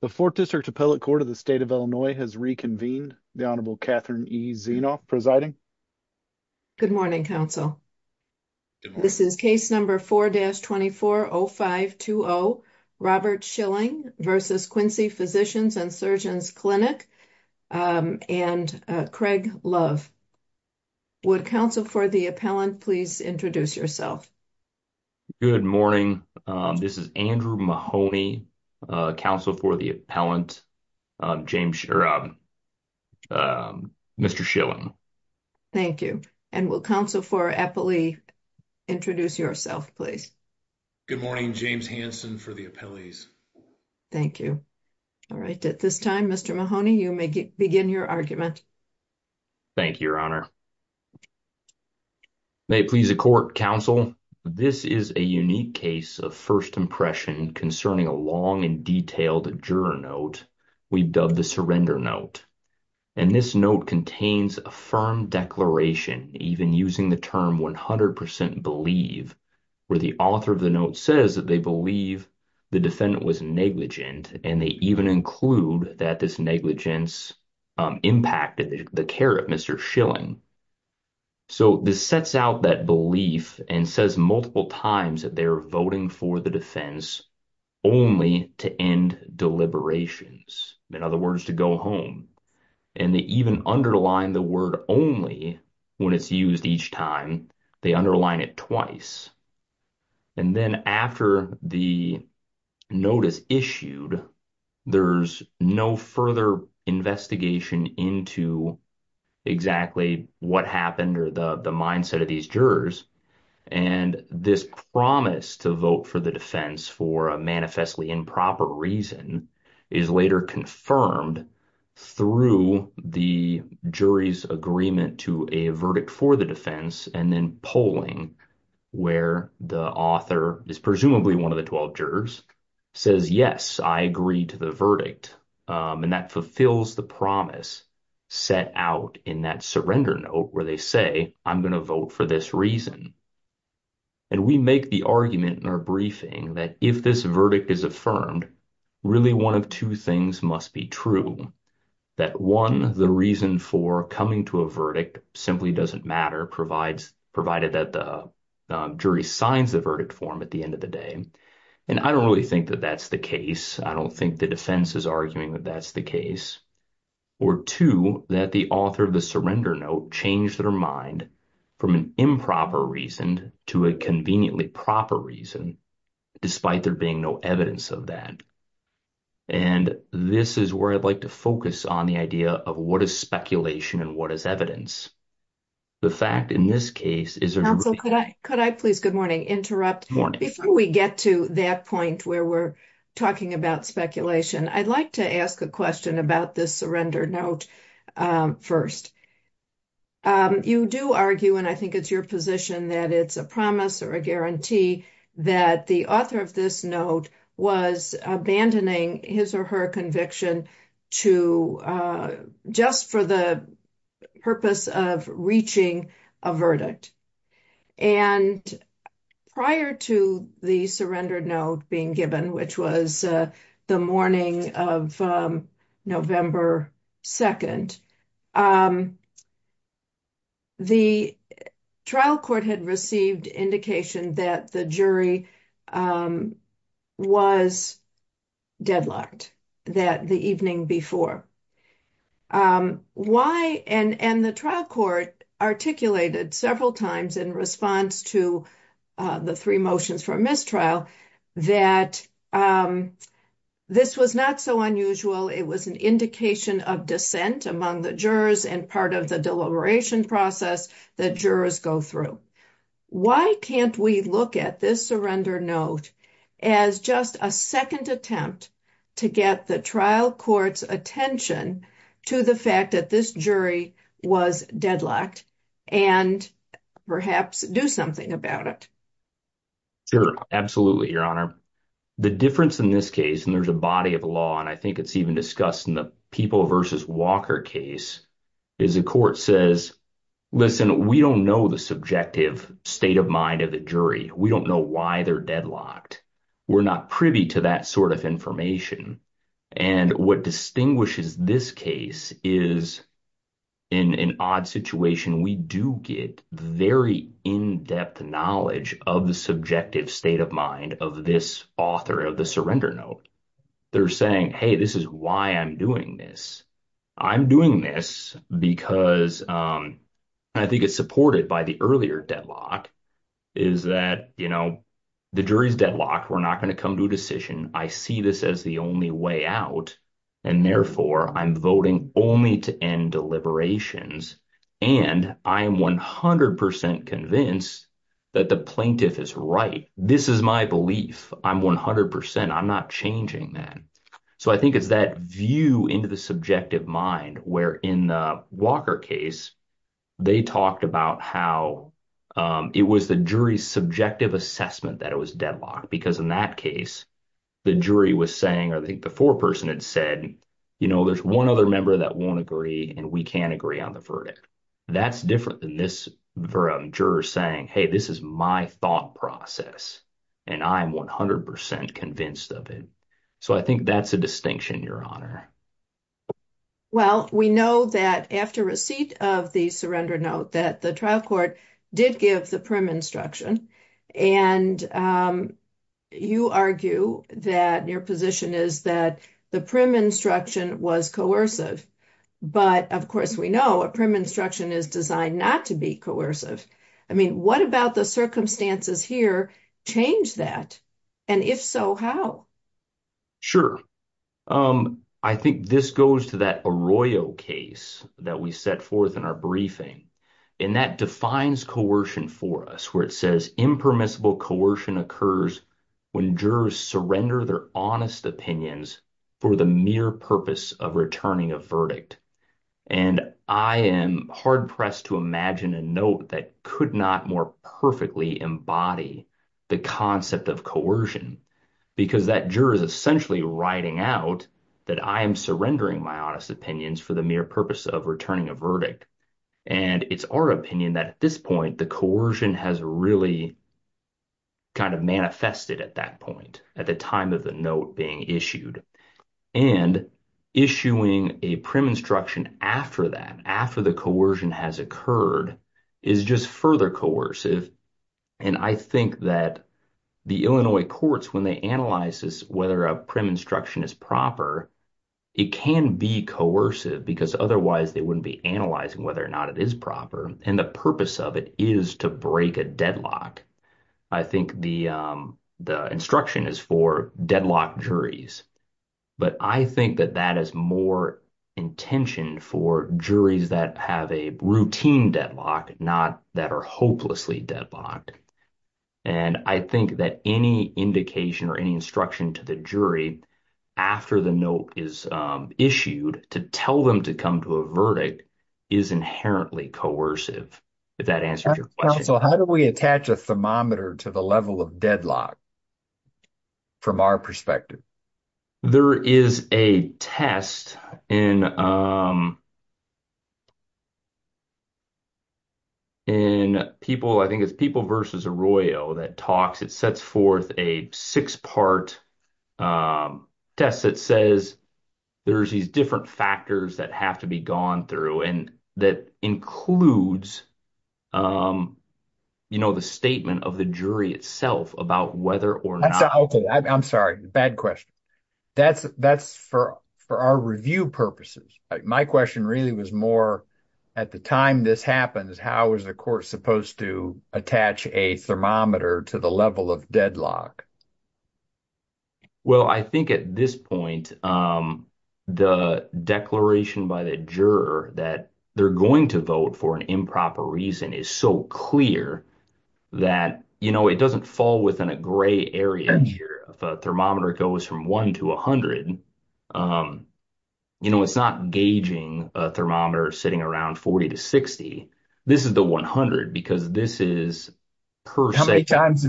The 4th District Appellate Court of the State of Illinois has reconvened. The Honorable Catherine E. Zeno presiding. Good morning, counsel. This is case number 4-240520, Robert Schilling v. Quincy Physicians & Surgeons Clinic, and Craig Love. Would counsel for the appellant, please introduce yourself. Good morning. This is Andrew Mahoney, counsel for the appellant, Mr. Schilling. Thank you. And will counsel for appellee, introduce yourself, please. Good morning, James Hanson for the appellees. Thank you. All right. At this time, Mr. Mahoney, you may begin your argument. Thank you, Your Honor. May it please the court, counsel, this is a unique case of first impression concerning a long and detailed juror note we've dubbed the surrender note. And this note contains a firm declaration, even using the term 100% believe, where the author of the note says that they believe the defendant was negligent, and they even include that this negligence impacted the care of Mr. Schilling. So this sets out that belief and says multiple times that they're voting for the defense only to end deliberations, in other words, to go home. And they even underline the word only when it's used each time. They underline it twice. And then after the notice issued, there's no further investigation into exactly what happened or the mindset of these jurors. And this promise to vote for the defense for a manifestly improper reason is later confirmed through the jury's agreement to a verdict for the defense and then polling where the author is presumably one of the 12 jurors says, yes, I agree to the verdict. And that fulfills the promise set out in that surrender note where they say, I'm going to vote for this reason. And we make the argument in our briefing that if this verdict is affirmed, really one of two things must be true, that one, the reason for coming to a verdict simply doesn't matter, provided that the jury signs the verdict form at the end of the day. And I don't really think that that's the case. I don't think the defense is arguing that that's the case. Or two, that the author of the surrender note changed their mind from an improper reason to a conveniently proper reason, despite there being no evidence of that. And this is where I'd like to focus on the idea of what is speculation and what is evidence. The fact in this case is, could I could I please good morning interrupt before we get to that point where we're talking about speculation, I'd like to ask a question about this surrender note first. You do argue, and I think it's your position that it's a promise or a guarantee that the author of this note was abandoning his or her conviction to just for the purpose of reaching a verdict. And prior to the surrender note being given, which was the morning of November 2nd, the trial court had received indication that the jury was deadlocked that the evening before. And the trial court articulated several times in response to the three motions for mistrial that this was not so unusual. It was an indication of dissent among the jurors and part of the deliberation process that jurors go through. Why can't we look at this surrender note as just a second attempt to get the trial court's attention to the fact that this jury was deadlocked and perhaps do something about it? Sure. Absolutely. Your honor, the difference in this case, and there's a body of law, and I think it's even discussed in the people versus Walker case is a court says, listen, we don't know the subjective state of mind of the jury. We don't know why they're deadlocked. We're not privy to that sort of information. And what distinguishes this case is in an odd situation, we do get very in-depth knowledge of the subjective state of mind of this author of the surrender note. They're saying, hey, this is why I'm doing this. I'm doing this because I think it's supported by the earlier deadlock is that, you know, the jury's deadlocked. We're not going to come to a decision. I see this as the only way out. And therefore, I'm voting only to end deliberations. And I am 100 percent convinced that the plaintiff is right. This is my belief. I'm 100 percent. I'm not changing that. So I think it's that view into the subjective mind where in the Walker case, they talked about how it was the jury's subjective assessment that it was deadlocked. Because in that case, the jury was saying, or I think the foreperson had said, you know, there's one other member that won't agree and we can't agree on the verdict. That's different than this juror saying, hey, this is my thought process, and I'm 100 percent convinced of it. So I think that's a distinction, Your Honor. Well, we know that after receipt of the surrender note that the trial court did give the prim instruction and you argue that your position is that the prim instruction was coercive. But of course, we know a prim instruction is designed not to be coercive. I mean, what about the circumstances here change that? And if so, how? Sure. I think this goes to that Arroyo case that we set forth in our briefing, and that defines coercion for us, where it says impermissible coercion occurs when jurors surrender their honest opinions for the mere purpose of returning a verdict. And I am hard-pressed to imagine a note that could not more perfectly embody the concept of coercion because that juror is essentially writing out that I am surrendering my honest opinions for the mere purpose of returning a verdict. And it's our opinion that at this point, the coercion has really kind of manifested at that point, at the time of the note being issued. And issuing a prim instruction after that, after the coercion has occurred, is just further coercive. And I think that the Illinois courts, when they analyze whether a prim instruction is proper, it can be coercive because otherwise they wouldn't be analyzing whether or not it is proper. And the purpose of it is to break a deadlock. I think the instruction is for deadlocked juries. But I think that that is more intention for juries that have a routine deadlock, not that are hopelessly deadlocked. And I think that any indication or any instruction to the jury after the note is issued to tell them to come to a verdict is inherently coercive, if that answers your question. So how do we attach a thermometer to the level of deadlock from our perspective? There is a test in—I think it's People v. Arroyo that talks. It sets forth a six-part test that says there's these different factors that have to be gone through, and that includes the statement of the jury itself about whether or not— I'm sorry, bad question. That's for our review purposes. My question really was more, at the time this happens, how is the court supposed to attach a thermometer to the level of deadlock? Well, I think at this point, the declaration by the juror that they're going to vote for an improper reason is so clear that it doesn't fall within a gray area here. If a thermometer goes from 1 to 100, it's not gauging a thermometer sitting around 40 to 60. This is the 100, because this is per se— How many times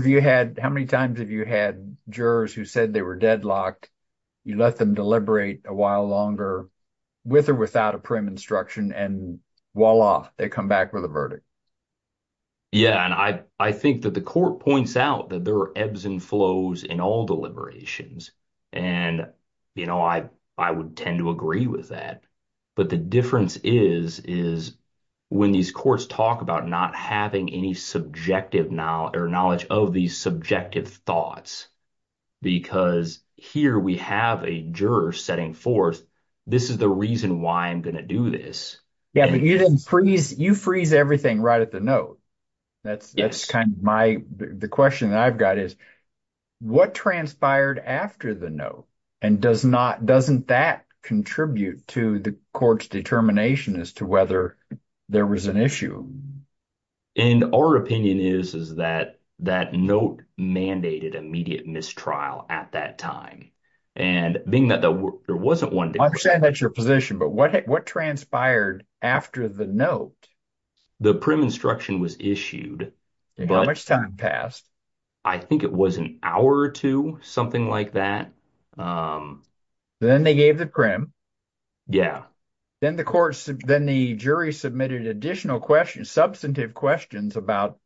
have you had jurors who said they were deadlocked, you let them deliberate a while longer with or without a prim instruction, and voila, they come back with a verdict? Yeah, and I think that the court points out that there are ebbs and flows in all deliberations, and I would tend to agree with that. But the difference is when these courts talk about not having any subjective knowledge or knowledge of these subjective thoughts because here we have a juror setting forth this is the reason why I'm going to do this. Yeah, but you didn't freeze – you freeze everything right at the note. That's kind of my – the question that I've got is what transpired after the note, and does not – doesn't that contribute to the court's determination as to whether there was an issue? And our opinion is, is that that note mandated immediate mistrial at that time, and being that there wasn't one— I understand that's your position, but what transpired after the note? The prim instruction was issued, but— How much time passed? I think it was an hour or two, something like that. Then they gave the prim. Yeah. Then the court – then the jury submitted additional questions, substantive questions about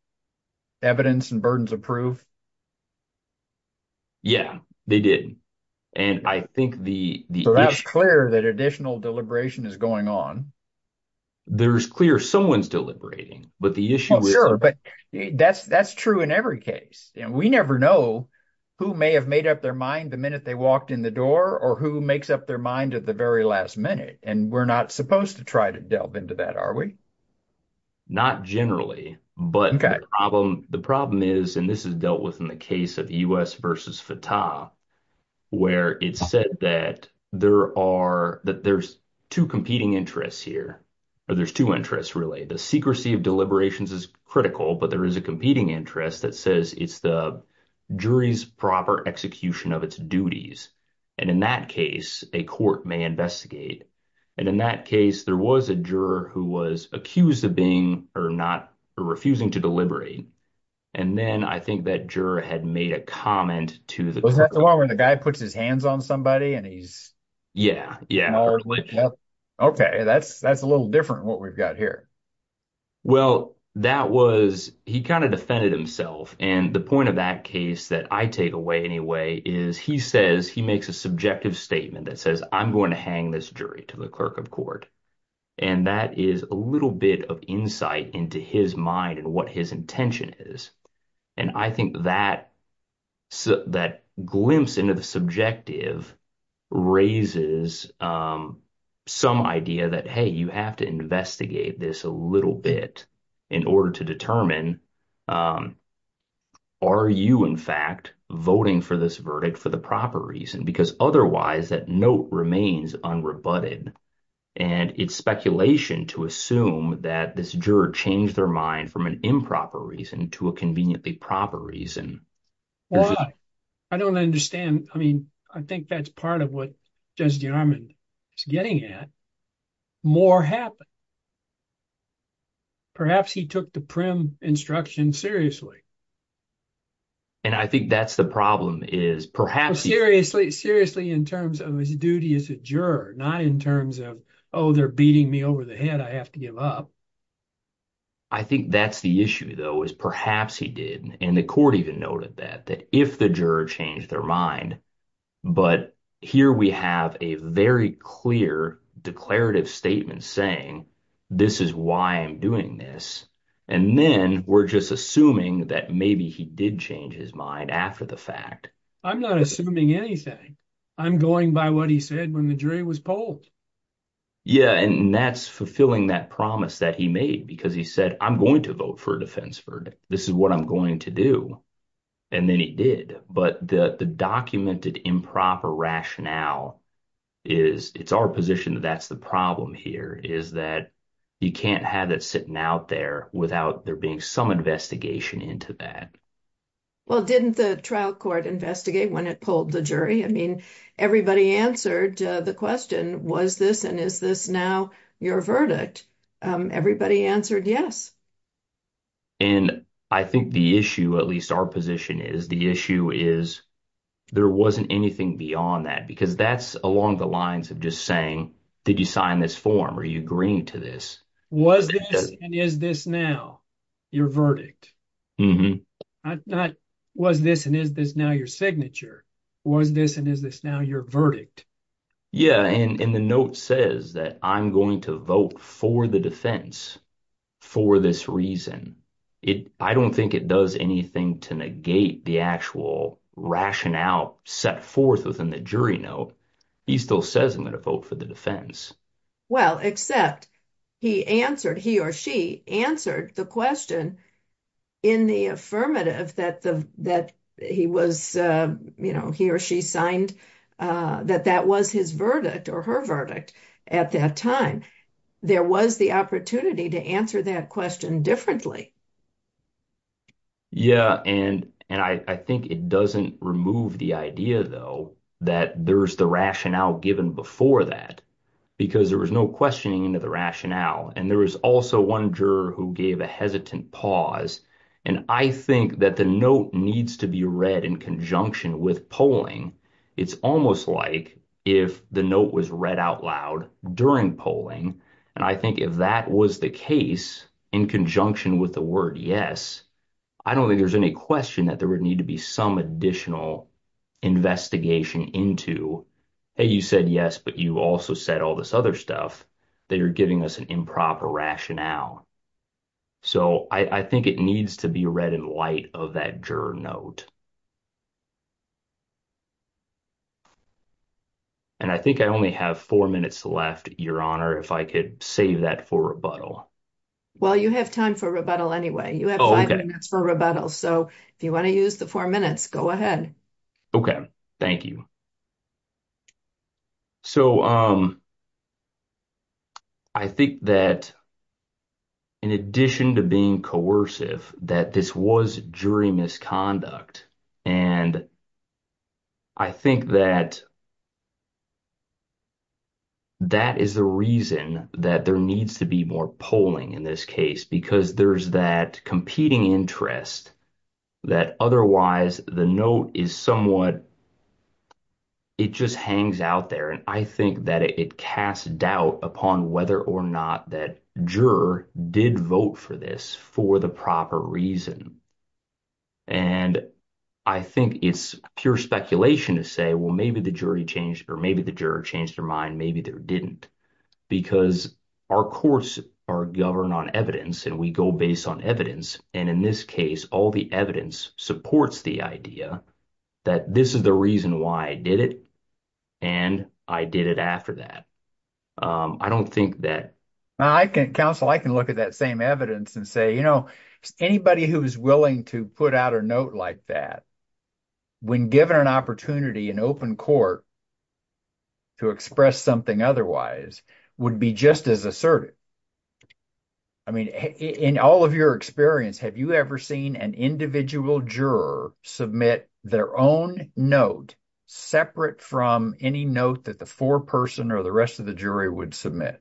evidence and burdens of proof. Yeah, they did, and I think the issue— So that's clear that additional deliberation is going on. There's clear someone's deliberating, but the issue is— That's true in every case. We never know who may have made up their mind the minute they walked in the door or who makes up their mind at the very last minute, and we're not supposed to try to delve into that, are we? Not generally, but the problem is – and this is dealt with in the case of U.S. v. Fatah where it's said that there are – that there's two competing interests here, or there's two interests really. The secrecy of deliberations is critical, but there is a competing interest that says it's the jury's proper execution of its duties, and in that case, a court may investigate. And in that case, there was a juror who was accused of being or not – or refusing to deliberate, and then I think that juror had made a comment to the court. Wasn't that the one where the guy puts his hands on somebody and he's— Yeah, yeah. Okay. That's a little different what we've got here. Well, that was – he kind of defended himself, and the point of that case that I take away anyway is he says he makes a subjective statement that says I'm going to hang this jury to the clerk of court. And that is a little bit of insight into his mind and what his intention is, and I think that glimpse into the subjective raises some idea that, hey, you have to investigate this a little bit in order to determine, are you in fact voting for this verdict for the proper reason? Because otherwise, that note remains unrebutted, and it's speculation to assume that this juror changed their mind from an improper reason to a conveniently proper reason. Well, I don't understand. I mean, I think that's part of what Judge DeArmond is getting at. More happened. Perhaps he took the prim instruction seriously. And I think that's the problem is perhaps he— He took it seriously in terms of his duty as a juror, not in terms of, oh, they're beating me over the head, I have to give up. I think that's the issue, though, is perhaps he did, and the court even noted that, that if the juror changed their mind, but here we have a very clear declarative statement saying this is why I'm doing this, and then we're just assuming that maybe he did change his mind after the fact. I'm not assuming anything. I'm going by what he said when the jury was polled. Yeah, and that's fulfilling that promise that he made because he said, I'm going to vote for a defense verdict. This is what I'm going to do. And then he did, but the documented improper rationale is—it's our position that that's the problem here is that you can't have that sitting out there without there being some investigation into that. Well, didn't the trial court investigate when it pulled the jury? I mean, everybody answered the question, was this and is this now your verdict? Everybody answered yes. And I think the issue, at least our position is, the issue is there wasn't anything beyond that, because that's along the lines of just saying, did you sign this form? Are you agreeing to this? Was this and is this now your verdict? Not, was this and is this now your signature? Was this and is this now your verdict? Yeah, and the note says that I'm going to vote for the defense for this reason. I don't think it does anything to negate the actual rationale set forth within the jury note. He still says I'm going to vote for the defense. Well, except he answered—he or she answered the question in the affirmative that he was—he or she signed that that was his verdict or her verdict at that time. There was the opportunity to answer that question differently. Yeah, and I think it doesn't remove the idea, though, that there's the rationale given before that, because there was no questioning into the rationale. And there was also one juror who gave a hesitant pause, and I think that the note needs to be read in conjunction with polling. It's almost like if the note was read out loud during polling, and I think if that was the case in conjunction with the word yes, I don't think there's any question that there would need to be some additional investigation into, hey, you said yes, but you also said all this other stuff that you're giving us an improper rationale. So I think it needs to be read in light of that juror note. And I think I only have four minutes left, Your Honor, if I could save that for rebuttal. Well, you have time for rebuttal anyway. You have five minutes for rebuttal, so if you want to use the four minutes, go ahead. Okay, thank you. So I think that in addition to being coercive, that this was jury misconduct. And I think that that is the reason that there needs to be more polling in this case, because there's that competing interest that otherwise the note is somewhat, it just hangs out there. And I think that it casts doubt upon whether or not that juror did vote for this for the proper reason. And I think it's pure speculation to say, well, maybe the jury changed, or maybe the juror changed their mind, maybe they didn't. Because our courts are governed on evidence, and we go based on evidence. And in this case, all the evidence supports the idea that this is the reason why I did it, and I did it after that. I don't think that. Counsel, I can look at that same evidence and say, you know, anybody who's willing to put out a note like that, when given an opportunity in open court to express something otherwise, would be just as assertive. I mean, in all of your experience, have you ever seen an individual juror submit their own note separate from any note that the foreperson or the rest of the jury would submit?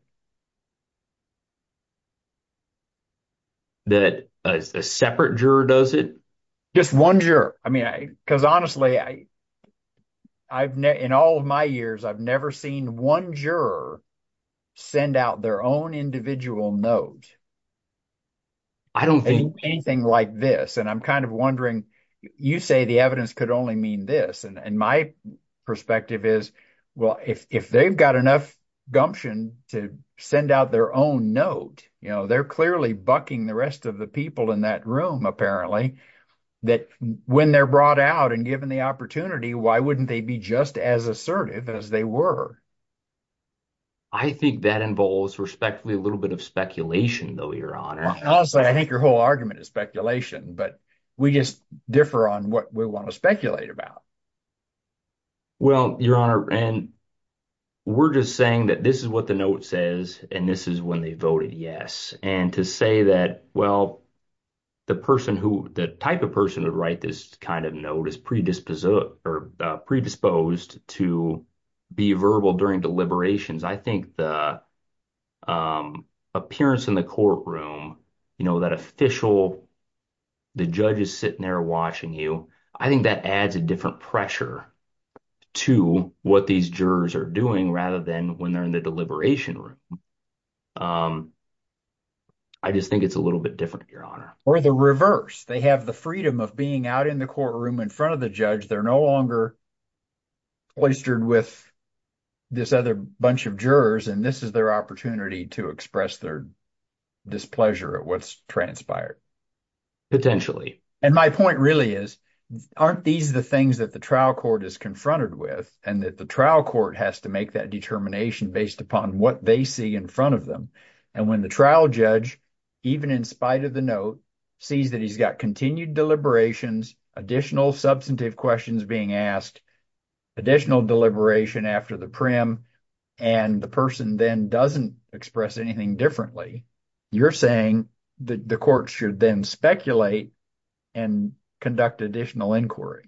That a separate juror does it? Just one juror. I mean, because honestly, in all of my years, I've never seen one juror send out their own individual note. I don't think… And I'm kind of wondering, you say the evidence could only mean this, and my perspective is, well, if they've got enough gumption to send out their own note, you know, they're clearly bucking the rest of the people in that room, apparently. That when they're brought out and given the opportunity, why wouldn't they be just as assertive as they were? I think that involves, respectfully, a little bit of speculation, though, Your Honor. Honestly, I think your whole argument is speculation, but we just differ on what we want to speculate about. Well, Your Honor, and we're just saying that this is what the note says, and this is when they voted yes. And to say that, well, the type of person who would write this kind of note is predisposed to be verbal during deliberations. I think the appearance in the courtroom, you know, that official, the judge is sitting there watching you, I think that adds a different pressure to what these jurors are doing rather than when they're in the deliberation room. I just think it's a little bit different, Your Honor. Or the reverse. They have the freedom of being out in the courtroom in front of the judge. They're no longer oystered with this other bunch of jurors, and this is their opportunity to express their displeasure at what's transpired. And my point really is, aren't these the things that the trial court is confronted with and that the trial court has to make that determination based upon what they see in front of them? And when the trial judge, even in spite of the note, sees that he's got continued deliberations, additional substantive questions being asked, additional deliberation after the prim, and the person then doesn't express anything differently, you're saying that the court should then speculate. And conduct additional inquiry.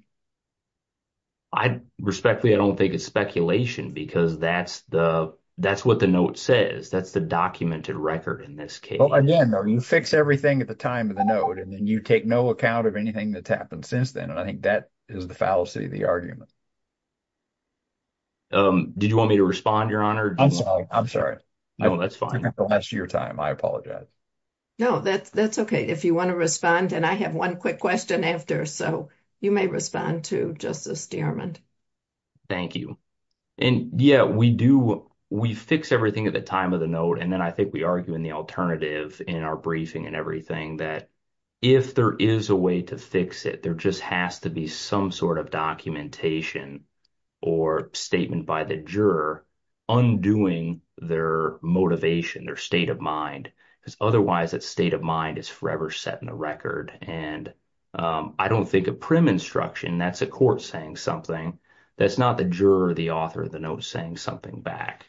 Respectfully, I don't think it's speculation because that's what the note says. That's the documented record in this case. Well, again, you fix everything at the time of the note, and then you take no account of anything that's happened since then. And I think that is the fallacy of the argument. Did you want me to respond, Your Honor? I'm sorry. I'm sorry. No, that's fine. The last of your time, I apologize. No, that's okay. If you want to respond, and I have one quick question after, so you may respond to Justice Stearman. Thank you. And yeah, we do. We fix everything at the time of the note. And then I think we argue in the alternative in our briefing and everything that if there is a way to fix it, there just has to be some sort of documentation. Or statement by the juror undoing their motivation, their state of mind. Because otherwise that state of mind is forever set in the record. And I don't think a prim instruction, that's a court saying something. That's not the juror or the author of the note saying something back.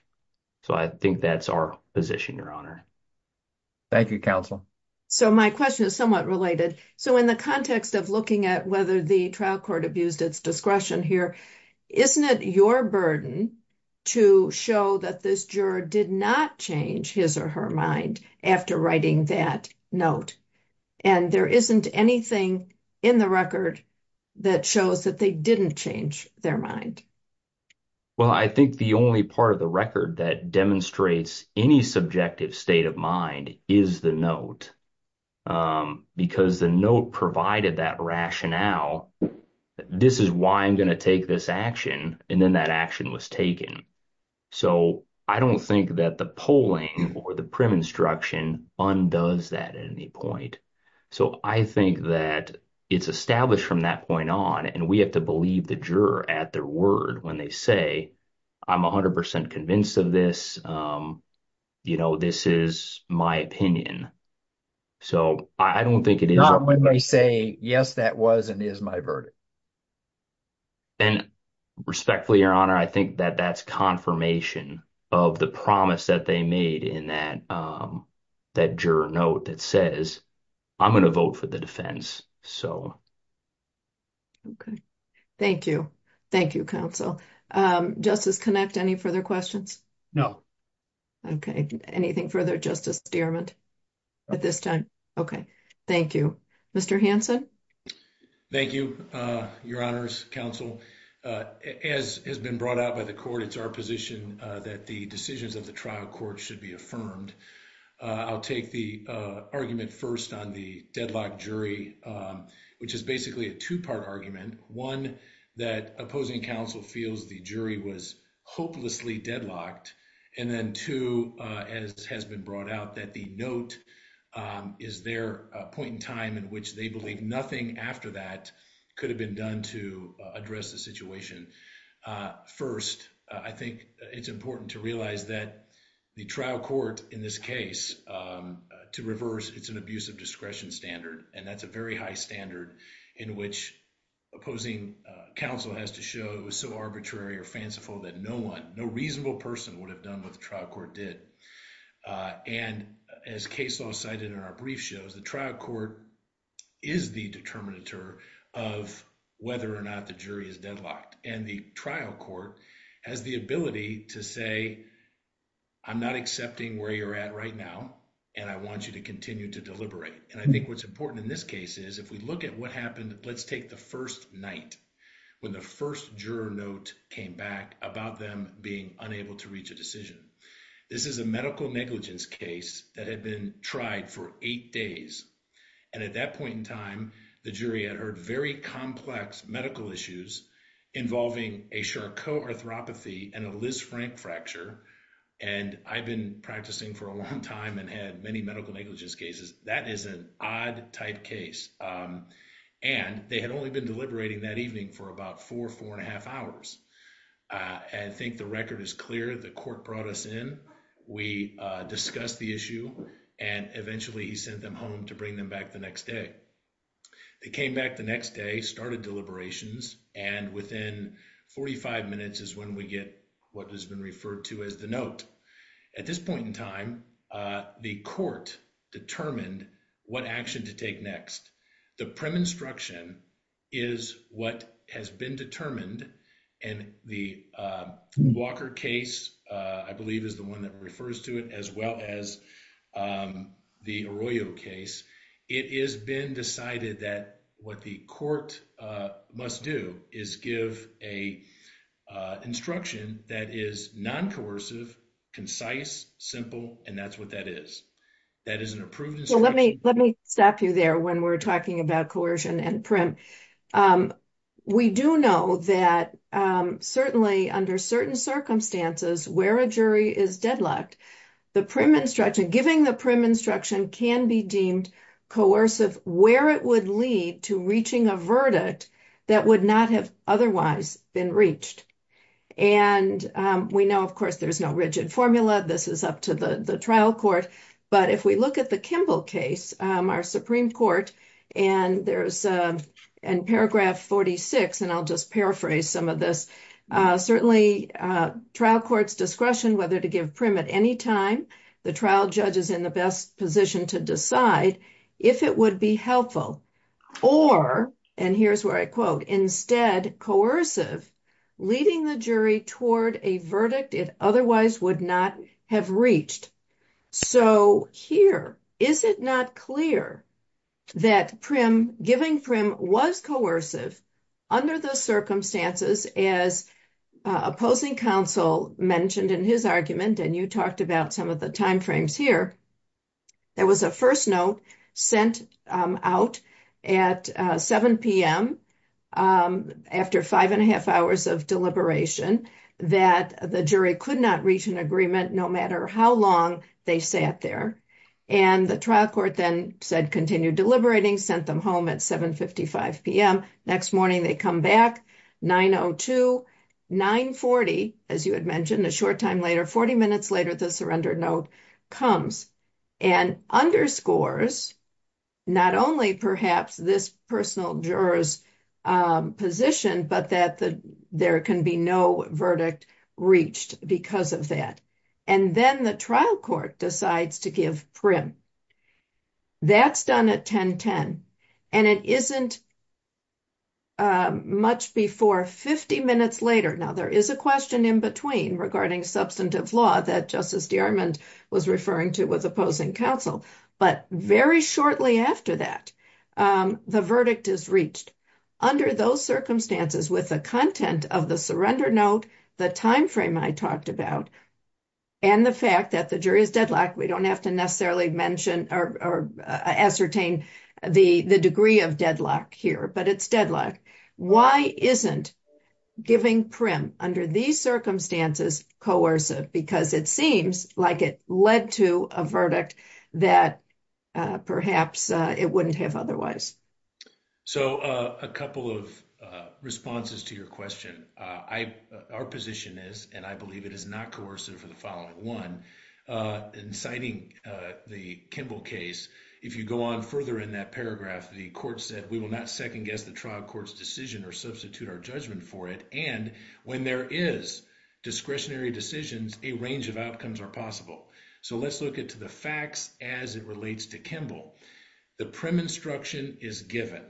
So I think that's our position, Your Honor. Thank you, Counsel. So my question is somewhat related. So in the context of looking at whether the trial court abused its discretion here, isn't it your burden to show that this juror did not change his or her mind after writing that note? And there isn't anything in the record that shows that they didn't change their mind. Well, I think the only part of the record that demonstrates any subjective state of mind is the note. Because the note provided that rationale. This is why I'm going to take this action. And then that action was taken. So I don't think that the polling or the prim instruction undoes that at any point. So I think that it's established from that point on, and we have to believe the juror at their word when they say, I'm 100 percent convinced of this. This is my opinion. So I don't think it is. Not when they say, yes, that was and is my verdict. And respectfully, Your Honor, I think that that's confirmation of the promise that they made in that that juror note that says, I'm going to vote for the defense. Okay, thank you. Thank you, Counsel. Justice Connick, any further questions? No. Okay. Anything further, Justice Stearman? At this time? Okay. Thank you. Mr. Hanson? Thank you, Your Honors. Counsel, as has been brought out by the court, it's our position that the decisions of the trial court should be affirmed. I'll take the argument first on the deadlock jury, which is basically a two part argument. One, that opposing counsel feels the jury was hopelessly deadlocked. And then two, as has been brought out, that the note is their point in time in which they believe nothing after that could have been done to address the situation. First, I think it's important to realize that the trial court in this case, to reverse, it's an abuse of discretion standard. And that's a very high standard in which opposing counsel has to show so arbitrary or fanciful that no one, no reasonable person would have done what the trial court did. And as case law cited in our brief shows, the trial court is the determinator of whether or not the jury is deadlocked. And the trial court has the ability to say, I'm not accepting where you're at right now, and I want you to continue to deliberate. And I think what's important in this case is if we look at what happened, let's take the first night, when the first juror note came back about them being unable to reach a decision. This is a medical negligence case that had been tried for eight days. And at that point in time, the jury had heard very complex medical issues involving a Charcot arthropathy and a Liz Frank fracture. And I've been practicing for a long time and had many medical negligence cases. That is an odd type case. And they had only been deliberating that evening for about four, four and a half hours. And I think the record is clear. The court brought us in. We discussed the issue and eventually he sent them home to bring them back the next day. They came back the next day, started deliberations, and within 45 minutes is when we get what has been referred to as the note. At this point in time, the court determined what action to take next. The prim instruction is what has been determined and the Walker case, I believe, is the one that refers to it as well as the Arroyo case. It has been decided that what the court must do is give a instruction that is non-coercive, concise, simple, and that's what that is. Let me stop you there when we're talking about coercion and prim. We do know that certainly under certain circumstances where a jury is deadlocked, the prim instruction, giving the prim instruction can be deemed coercive where it would lead to reaching a verdict that would not have otherwise been reached. And we know, of course, there's no rigid formula. This is up to the trial court. But if we look at the Kimball case, our Supreme Court, and there's in paragraph 46, and I'll just paraphrase some of this, certainly trial court's discretion whether to give prim at any time, the trial judge is in the best position to decide if it would be helpful or, and here's where I quote, instead coercive, leading the jury toward a verdict it otherwise would not have reached. So here, is it not clear that prim, giving prim was coercive under the circumstances as opposing counsel mentioned in his argument, and you talked about some of the timeframes here, there was a first note sent out at 7 p.m. after five and a half hours of deliberation that the jury could not reach an agreement no matter how long they sat there. And the trial court then said continue deliberating, sent them home at 7.55 p.m. Next morning, they come back 9.02, 9.40, as you had mentioned, a short time later, 40 minutes later, the surrender note comes and underscores not only perhaps this personal juror's position, but that there can be no verdict reached because of that. And then the trial court decides to give prim. That's done at 10.10. And it isn't much before 50 minutes later, now there is a question in between regarding substantive law that Justice DeArmond was referring to with opposing counsel, but very shortly after that, the verdict is reached. Under those circumstances with the content of the surrender note, the timeframe I talked about, and the fact that the jury is deadlocked, we don't have to necessarily mention or ascertain the degree of deadlock here, but it's deadlocked. Why isn't giving prim under these circumstances coercive? Because it seems like it led to a verdict that perhaps it wouldn't have otherwise. So a couple of responses to your question. Our position is, and I believe it is not coercive for the following one, in citing the Kimball case, if you go on further in that paragraph, the court said, we will not second guess the trial court's decision or substitute our judgment for it. And when there is discretionary decisions, a range of outcomes are possible. So let's look at the facts as it relates to Kimball. The prim instruction is given.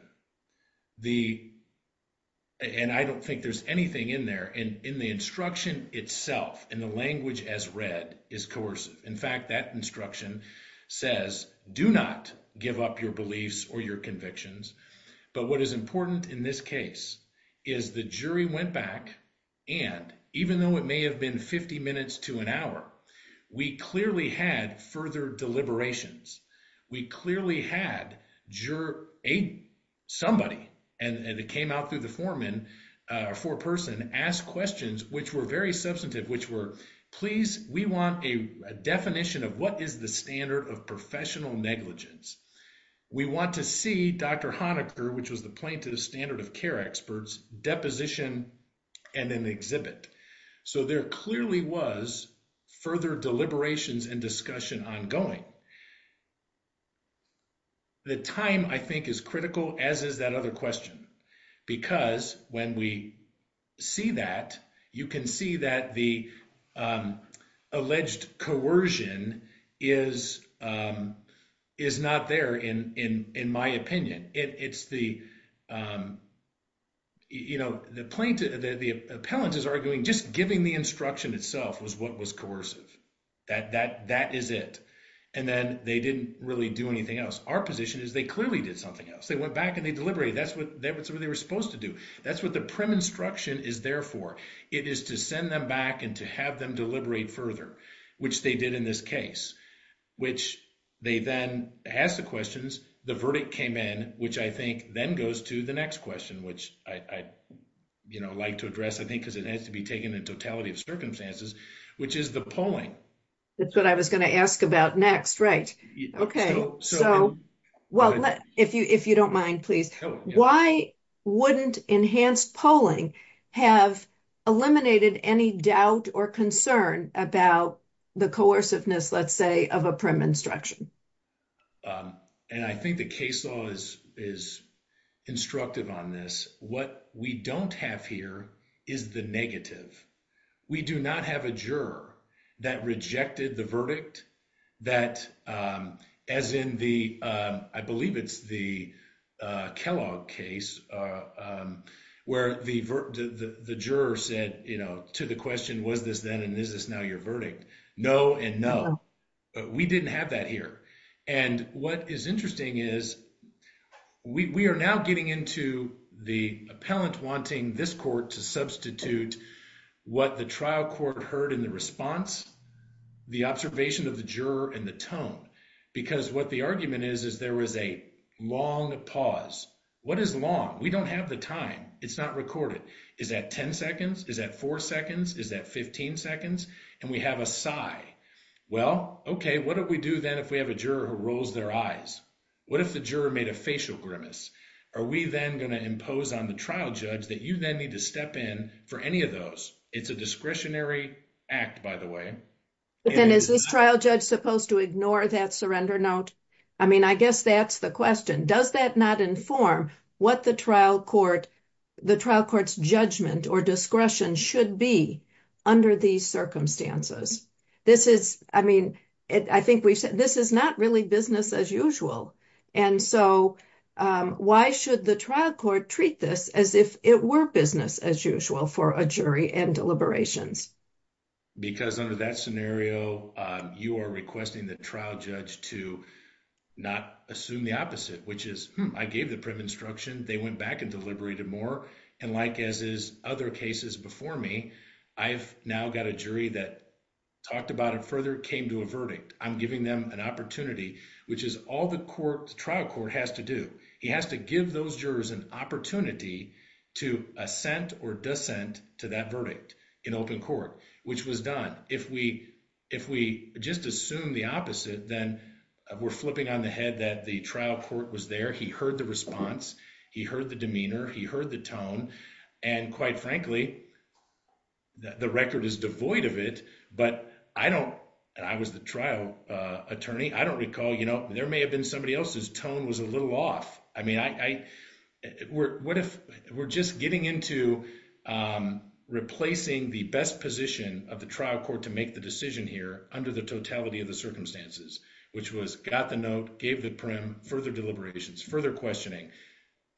And I don't think there's anything in there. In the instruction itself, in the language as read, is coercive. In fact, that instruction says, do not give up your beliefs or your convictions. But what is important in this case is the jury went back, and even though it may have been 50 minutes to an hour, we clearly had further deliberations. We clearly had somebody, and it came out through the foreman, or foreperson, ask questions which were very substantive, which were, please, we want a definition of what is the standard of professional negligence. We want to see Dr. Honaker, which was the plaintiff's standard of care experts, deposition, and then exhibit. So there clearly was further deliberations and discussion ongoing. The time, I think, is critical, as is that other question, because when we see that, you can see that the alleged coercion is not there, in my opinion. It's the, you know, the plaintiff, the appellant is arguing just giving the instruction itself was what was coercive. That is it. And then they didn't really do anything else. Our position is they clearly did something else. They went back and they deliberated. That's what they were supposed to do. That's what the prim instruction is there for. It is to send them back and to have them deliberate further, which they did in this case, which they then asked the questions, the verdict came in, which I think then goes to the next question, which I'd like to address, I think, because it has to be taken in totality of circumstances, which is the polling. That's what I was going to ask about next. Right. Okay. So, well, if you if you don't mind, please, why wouldn't enhanced polling have eliminated any doubt or concern about the coerciveness, let's say, of a prim instruction. And I think the case law is, is instructive on this. What we don't have here is the negative. We do not have a juror that rejected the verdict that, as in the, I believe it's the Kellogg case where the, the juror said, you know, to the question was this then and this is now your verdict. No, and no, we didn't have that here. And what is interesting is we are now getting into the appellant wanting this court to substitute what the trial court heard in the response. The observation of the juror and the tone, because what the argument is, is there was a long pause. What is long? We don't have the time. It's not recorded. Is that 10 seconds? Is that 4 seconds? Is that 15 seconds? And we have a sigh. Well, okay, what do we do then? If we have a juror who rolls their eyes? What if the juror made a facial grimace? Are we then going to impose on the trial judge that you then need to step in for any of those? It's a discretionary act by the way. But then is this trial judge supposed to ignore that surrender note? I mean, I guess that's the question. Does that not inform what the trial court, the trial court's judgment or discretion should be under these circumstances? This is, I mean, I think we've said this is not really business as usual. And so why should the trial court treat this as if it were business as usual for a jury and deliberations? Because under that scenario, you are requesting the trial judge to not assume the opposite, which is I gave the prim instruction. They went back and deliberated more. And like, as is other cases before me, I've now got a jury that talked about it further came to a verdict. I'm giving them an opportunity, which is all the trial court has to do. He has to give those jurors an opportunity to assent or dissent to that verdict in open court, which was done. If we just assume the opposite, then we're flipping on the head that the trial court was there. He heard the response. He heard the demeanor. He heard the tone. And quite frankly, the record is devoid of it. But I don't, and I was the trial attorney. I don't recall, you know, there may have been somebody else's tone was a little off. I mean, I, what if we're just getting into replacing the best position of the trial court to make the decision here under the totality of the circumstances, which was got the note, gave the prim further deliberations, further questioning.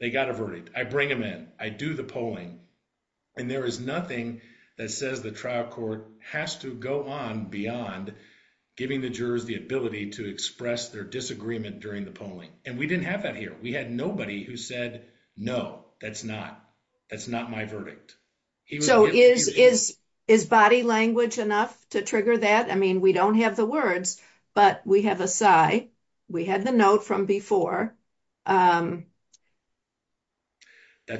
They got a verdict. I bring them in. I do the polling. And there is nothing that says the trial court has to go on beyond giving the jurors the ability to express their disagreement during the polling. And we didn't have that here. We had nobody who said, no, that's not that's not my verdict. So, is, is, is body language enough to trigger that? I mean, we don't have the words, but we have a side. We had the note from before. That's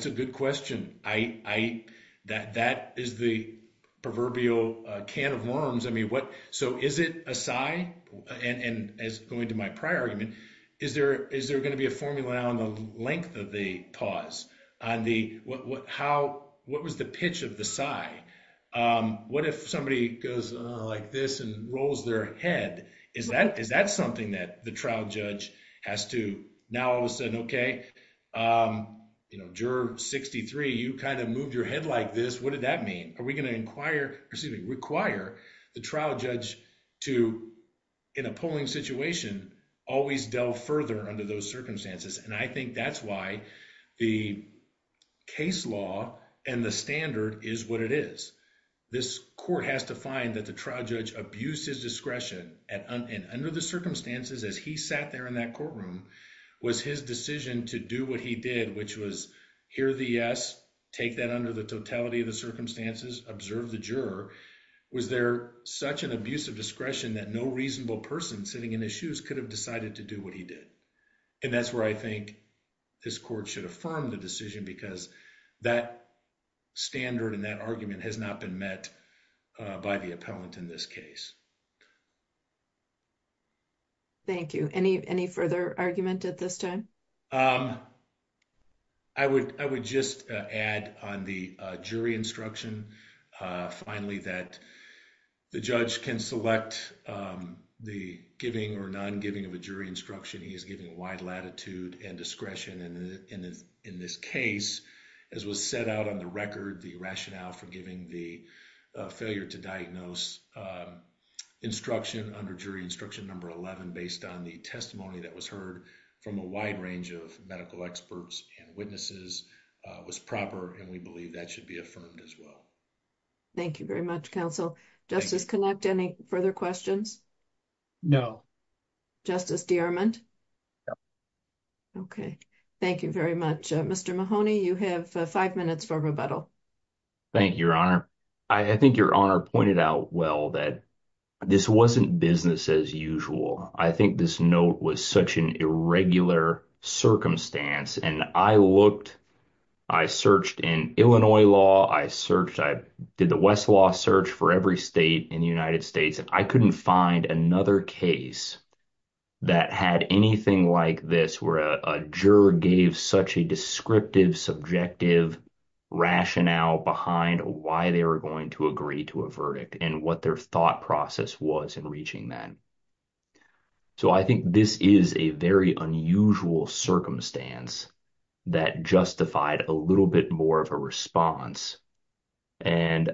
a good question. I that that is the proverbial can of worms. I mean, what? So, is it a side? And as going to my prior argument, is there is there going to be a formula on the length of the pause on the how what was the pitch of the side? What if somebody goes like this and rolls their head? Is that is that something that the trial judge has to now all of a sudden? Okay, you're 63. you kind of move your head like this. What did that mean? Are we going to inquire receiving require the trial judge to in a polling situation always delve further under those circumstances? And I think that's why the case law and the standard is what it is. This court has to find that the trial judge abuses discretion and under the circumstances as he sat there in that courtroom was his decision to do what he did, which was here. The yes, take that under the totality of the circumstances observe the juror. Was there such an abuse of discretion that no reasonable person sitting in his shoes could have decided to do what he did. And that's where I think this court should affirm the decision, because that standard and that argument has not been met by the appellant in this case. Thank you any any further argument at this time. I would I would just add on the jury instruction. Finally, that the judge can select the giving or non giving of a jury instruction. He is giving a wide latitude and discretion. And in this case, as was set out on the record, the rationale for giving the failure to diagnose instruction under jury instruction number 11, based on the testimony that was heard from a wide range of medical experts and witnesses was proper. And we believe that should be affirmed as well. Thank you very much counsel justice connect any further questions. No, justice. Okay, thank you very much. Mr Mahoney. You have 5 minutes for rebuttal. Thank you, your honor. I think your honor pointed out well, that this wasn't business as usual. I think this note was such an irregular circumstance. And I looked, I searched in Illinois law, I searched, I did the West law search for every state in the United States. And I couldn't find another case that had anything like this where a juror gave such a descriptive subjective rationale behind why they were going to agree to a verdict and what their thought process was in reaching that. So, I think this is a very unusual circumstance. That justified a little bit more of a response. And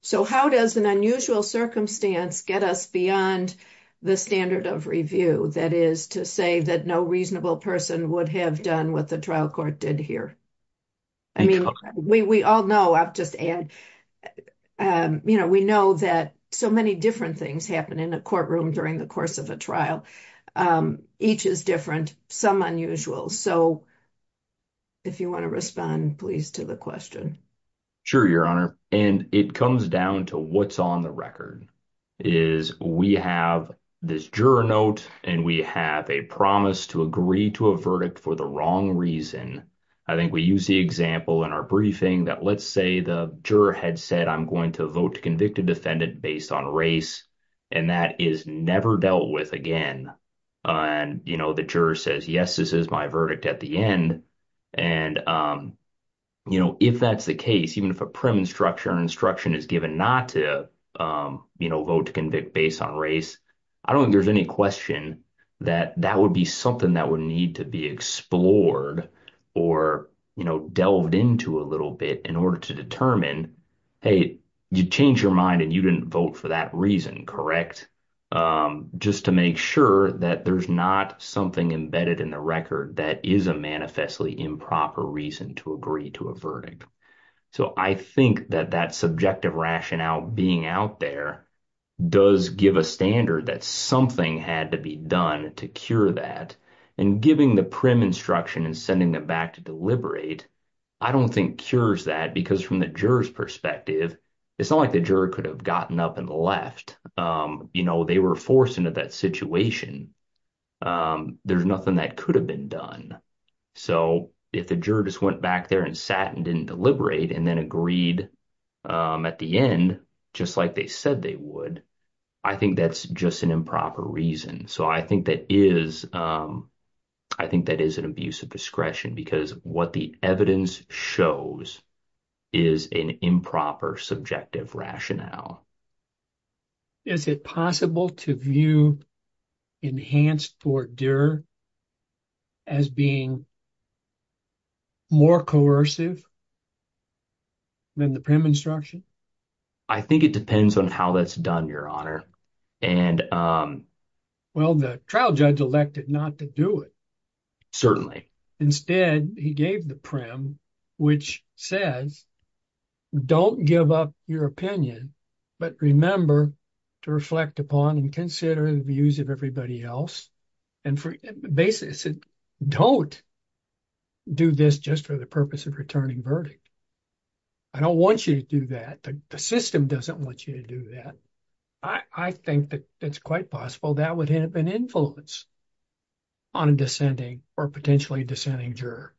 so how does an unusual circumstance get us beyond the standard of review? That is to say that no reasonable person would have done what the trial court did here. I mean, we all know I've just add, you know, we know that so many different things happen in a courtroom during the course of a trial. Each is different some unusual. So. If you want to respond, please to the question. Sure, your honor. And it comes down to what's on the record is we have this juror note, and we have a promise to agree to a verdict for the wrong reason. I think we use the example in our briefing that let's say the juror had said, I'm going to vote to convict a defendant based on race. And that is never dealt with again. And, you know, the juror says, yes, this is my verdict at the end. And, you know, if that's the case, even if a prim instruction instruction is given not to, you know, vote to convict based on race. I don't think there's any question that that would be something that would need to be explored or delved into a little bit in order to determine, hey, you change your mind and you didn't vote for that reason. Correct. Just to make sure that there's not something embedded in the record that is a manifestly improper reason to agree to a verdict. So I think that that subjective rationale being out there does give a standard that something had to be done to cure that. And giving the prim instruction and sending them back to deliberate, I don't think cures that because from the juror's perspective, it's not like the juror could have gotten up and left. You know, they were forced into that situation. There's nothing that could have been done. So if the jurors went back there and sat and didn't deliberate and then agreed at the end, just like they said they would, I think that's just an improper reason. So I think that is an abuse of discretion because what the evidence shows is an improper subjective rationale. Is it possible to view enhanced tort juror as being more coercive than the prim instruction? I think it depends on how that's done, Your Honor. Well, the trial judge elected not to do it. Instead, he gave the prim, which says don't give up your opinion, but remember to reflect upon and consider the views of everybody else. And for basis, don't do this just for the purpose of returning verdict. I don't want you to do that. The system doesn't want you to do that. I think that it's quite possible that would have an influence on a dissenting or potentially dissenting juror.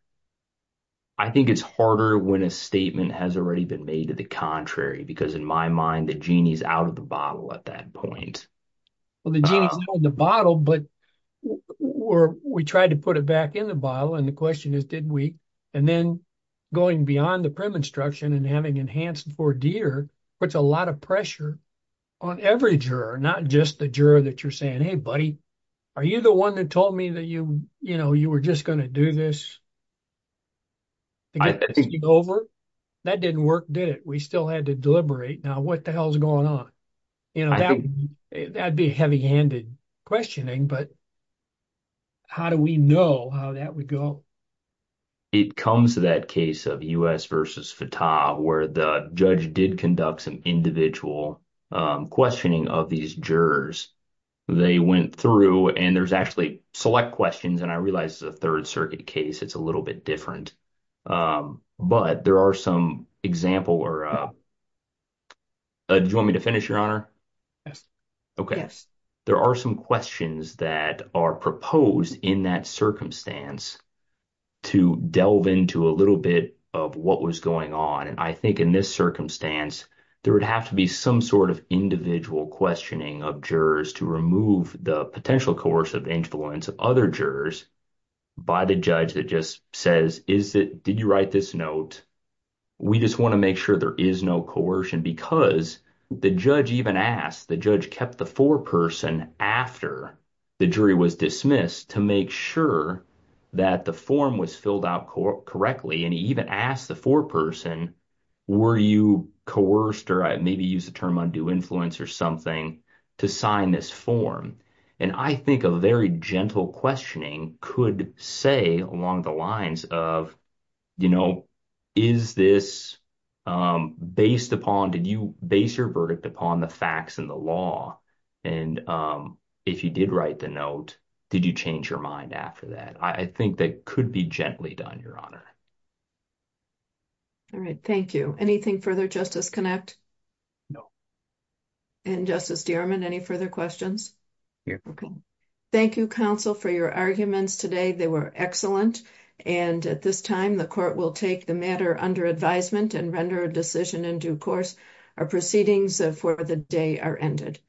I think it's harder when a statement has already been made to the contrary, because in my mind, the genie is out of the bottle at that point. Well, the genie is out of the bottle, but we tried to put it back in the bottle. And the question is, did we? And then going beyond the prim instruction and having enhanced for deer puts a lot of pressure on every juror, not just the juror that you're saying, hey, buddy, are you the one that told me that you, you know, you were just going to do this? I think over that didn't work, did it? We still had to deliberate. Now, what the hell is going on? You know, that'd be heavy handed questioning, but. How do we know how that would go? It comes to that case of US versus where the judge did conduct some individual questioning of these jurors. They went through and there's actually select questions, and I realize the 3rd circuit case, it's a little bit different. But there are some example or. Do you want me to finish your honor? Yes. There are some questions that are proposed in that circumstance. To delve into a little bit of what was going on, and I think in this circumstance, there would have to be some sort of individual questioning of jurors to remove the potential course of influence of other jurors. By the judge that just says, is it did you write this note? We just want to make sure there is no coercion because the judge even asked the judge kept the 4 person after the jury was dismissed to make sure that the form was filled out correctly. And he even asked the 4 person. Were you coerced or maybe use the term undue influence or something to sign this form? And I think a very gentle questioning could say along the lines of, you know, is this based upon? Did you base your verdict upon the facts in the law? And if you did write the note, did you change your mind after that? I think that could be gently done. Your honor. All right, thank you. Anything further justice connect. And justice, any further questions. Thank you counsel for your arguments today. They were excellent. And at this time, the court will take the matter under advisement and render a decision in due course. Our proceedings for the day are ended.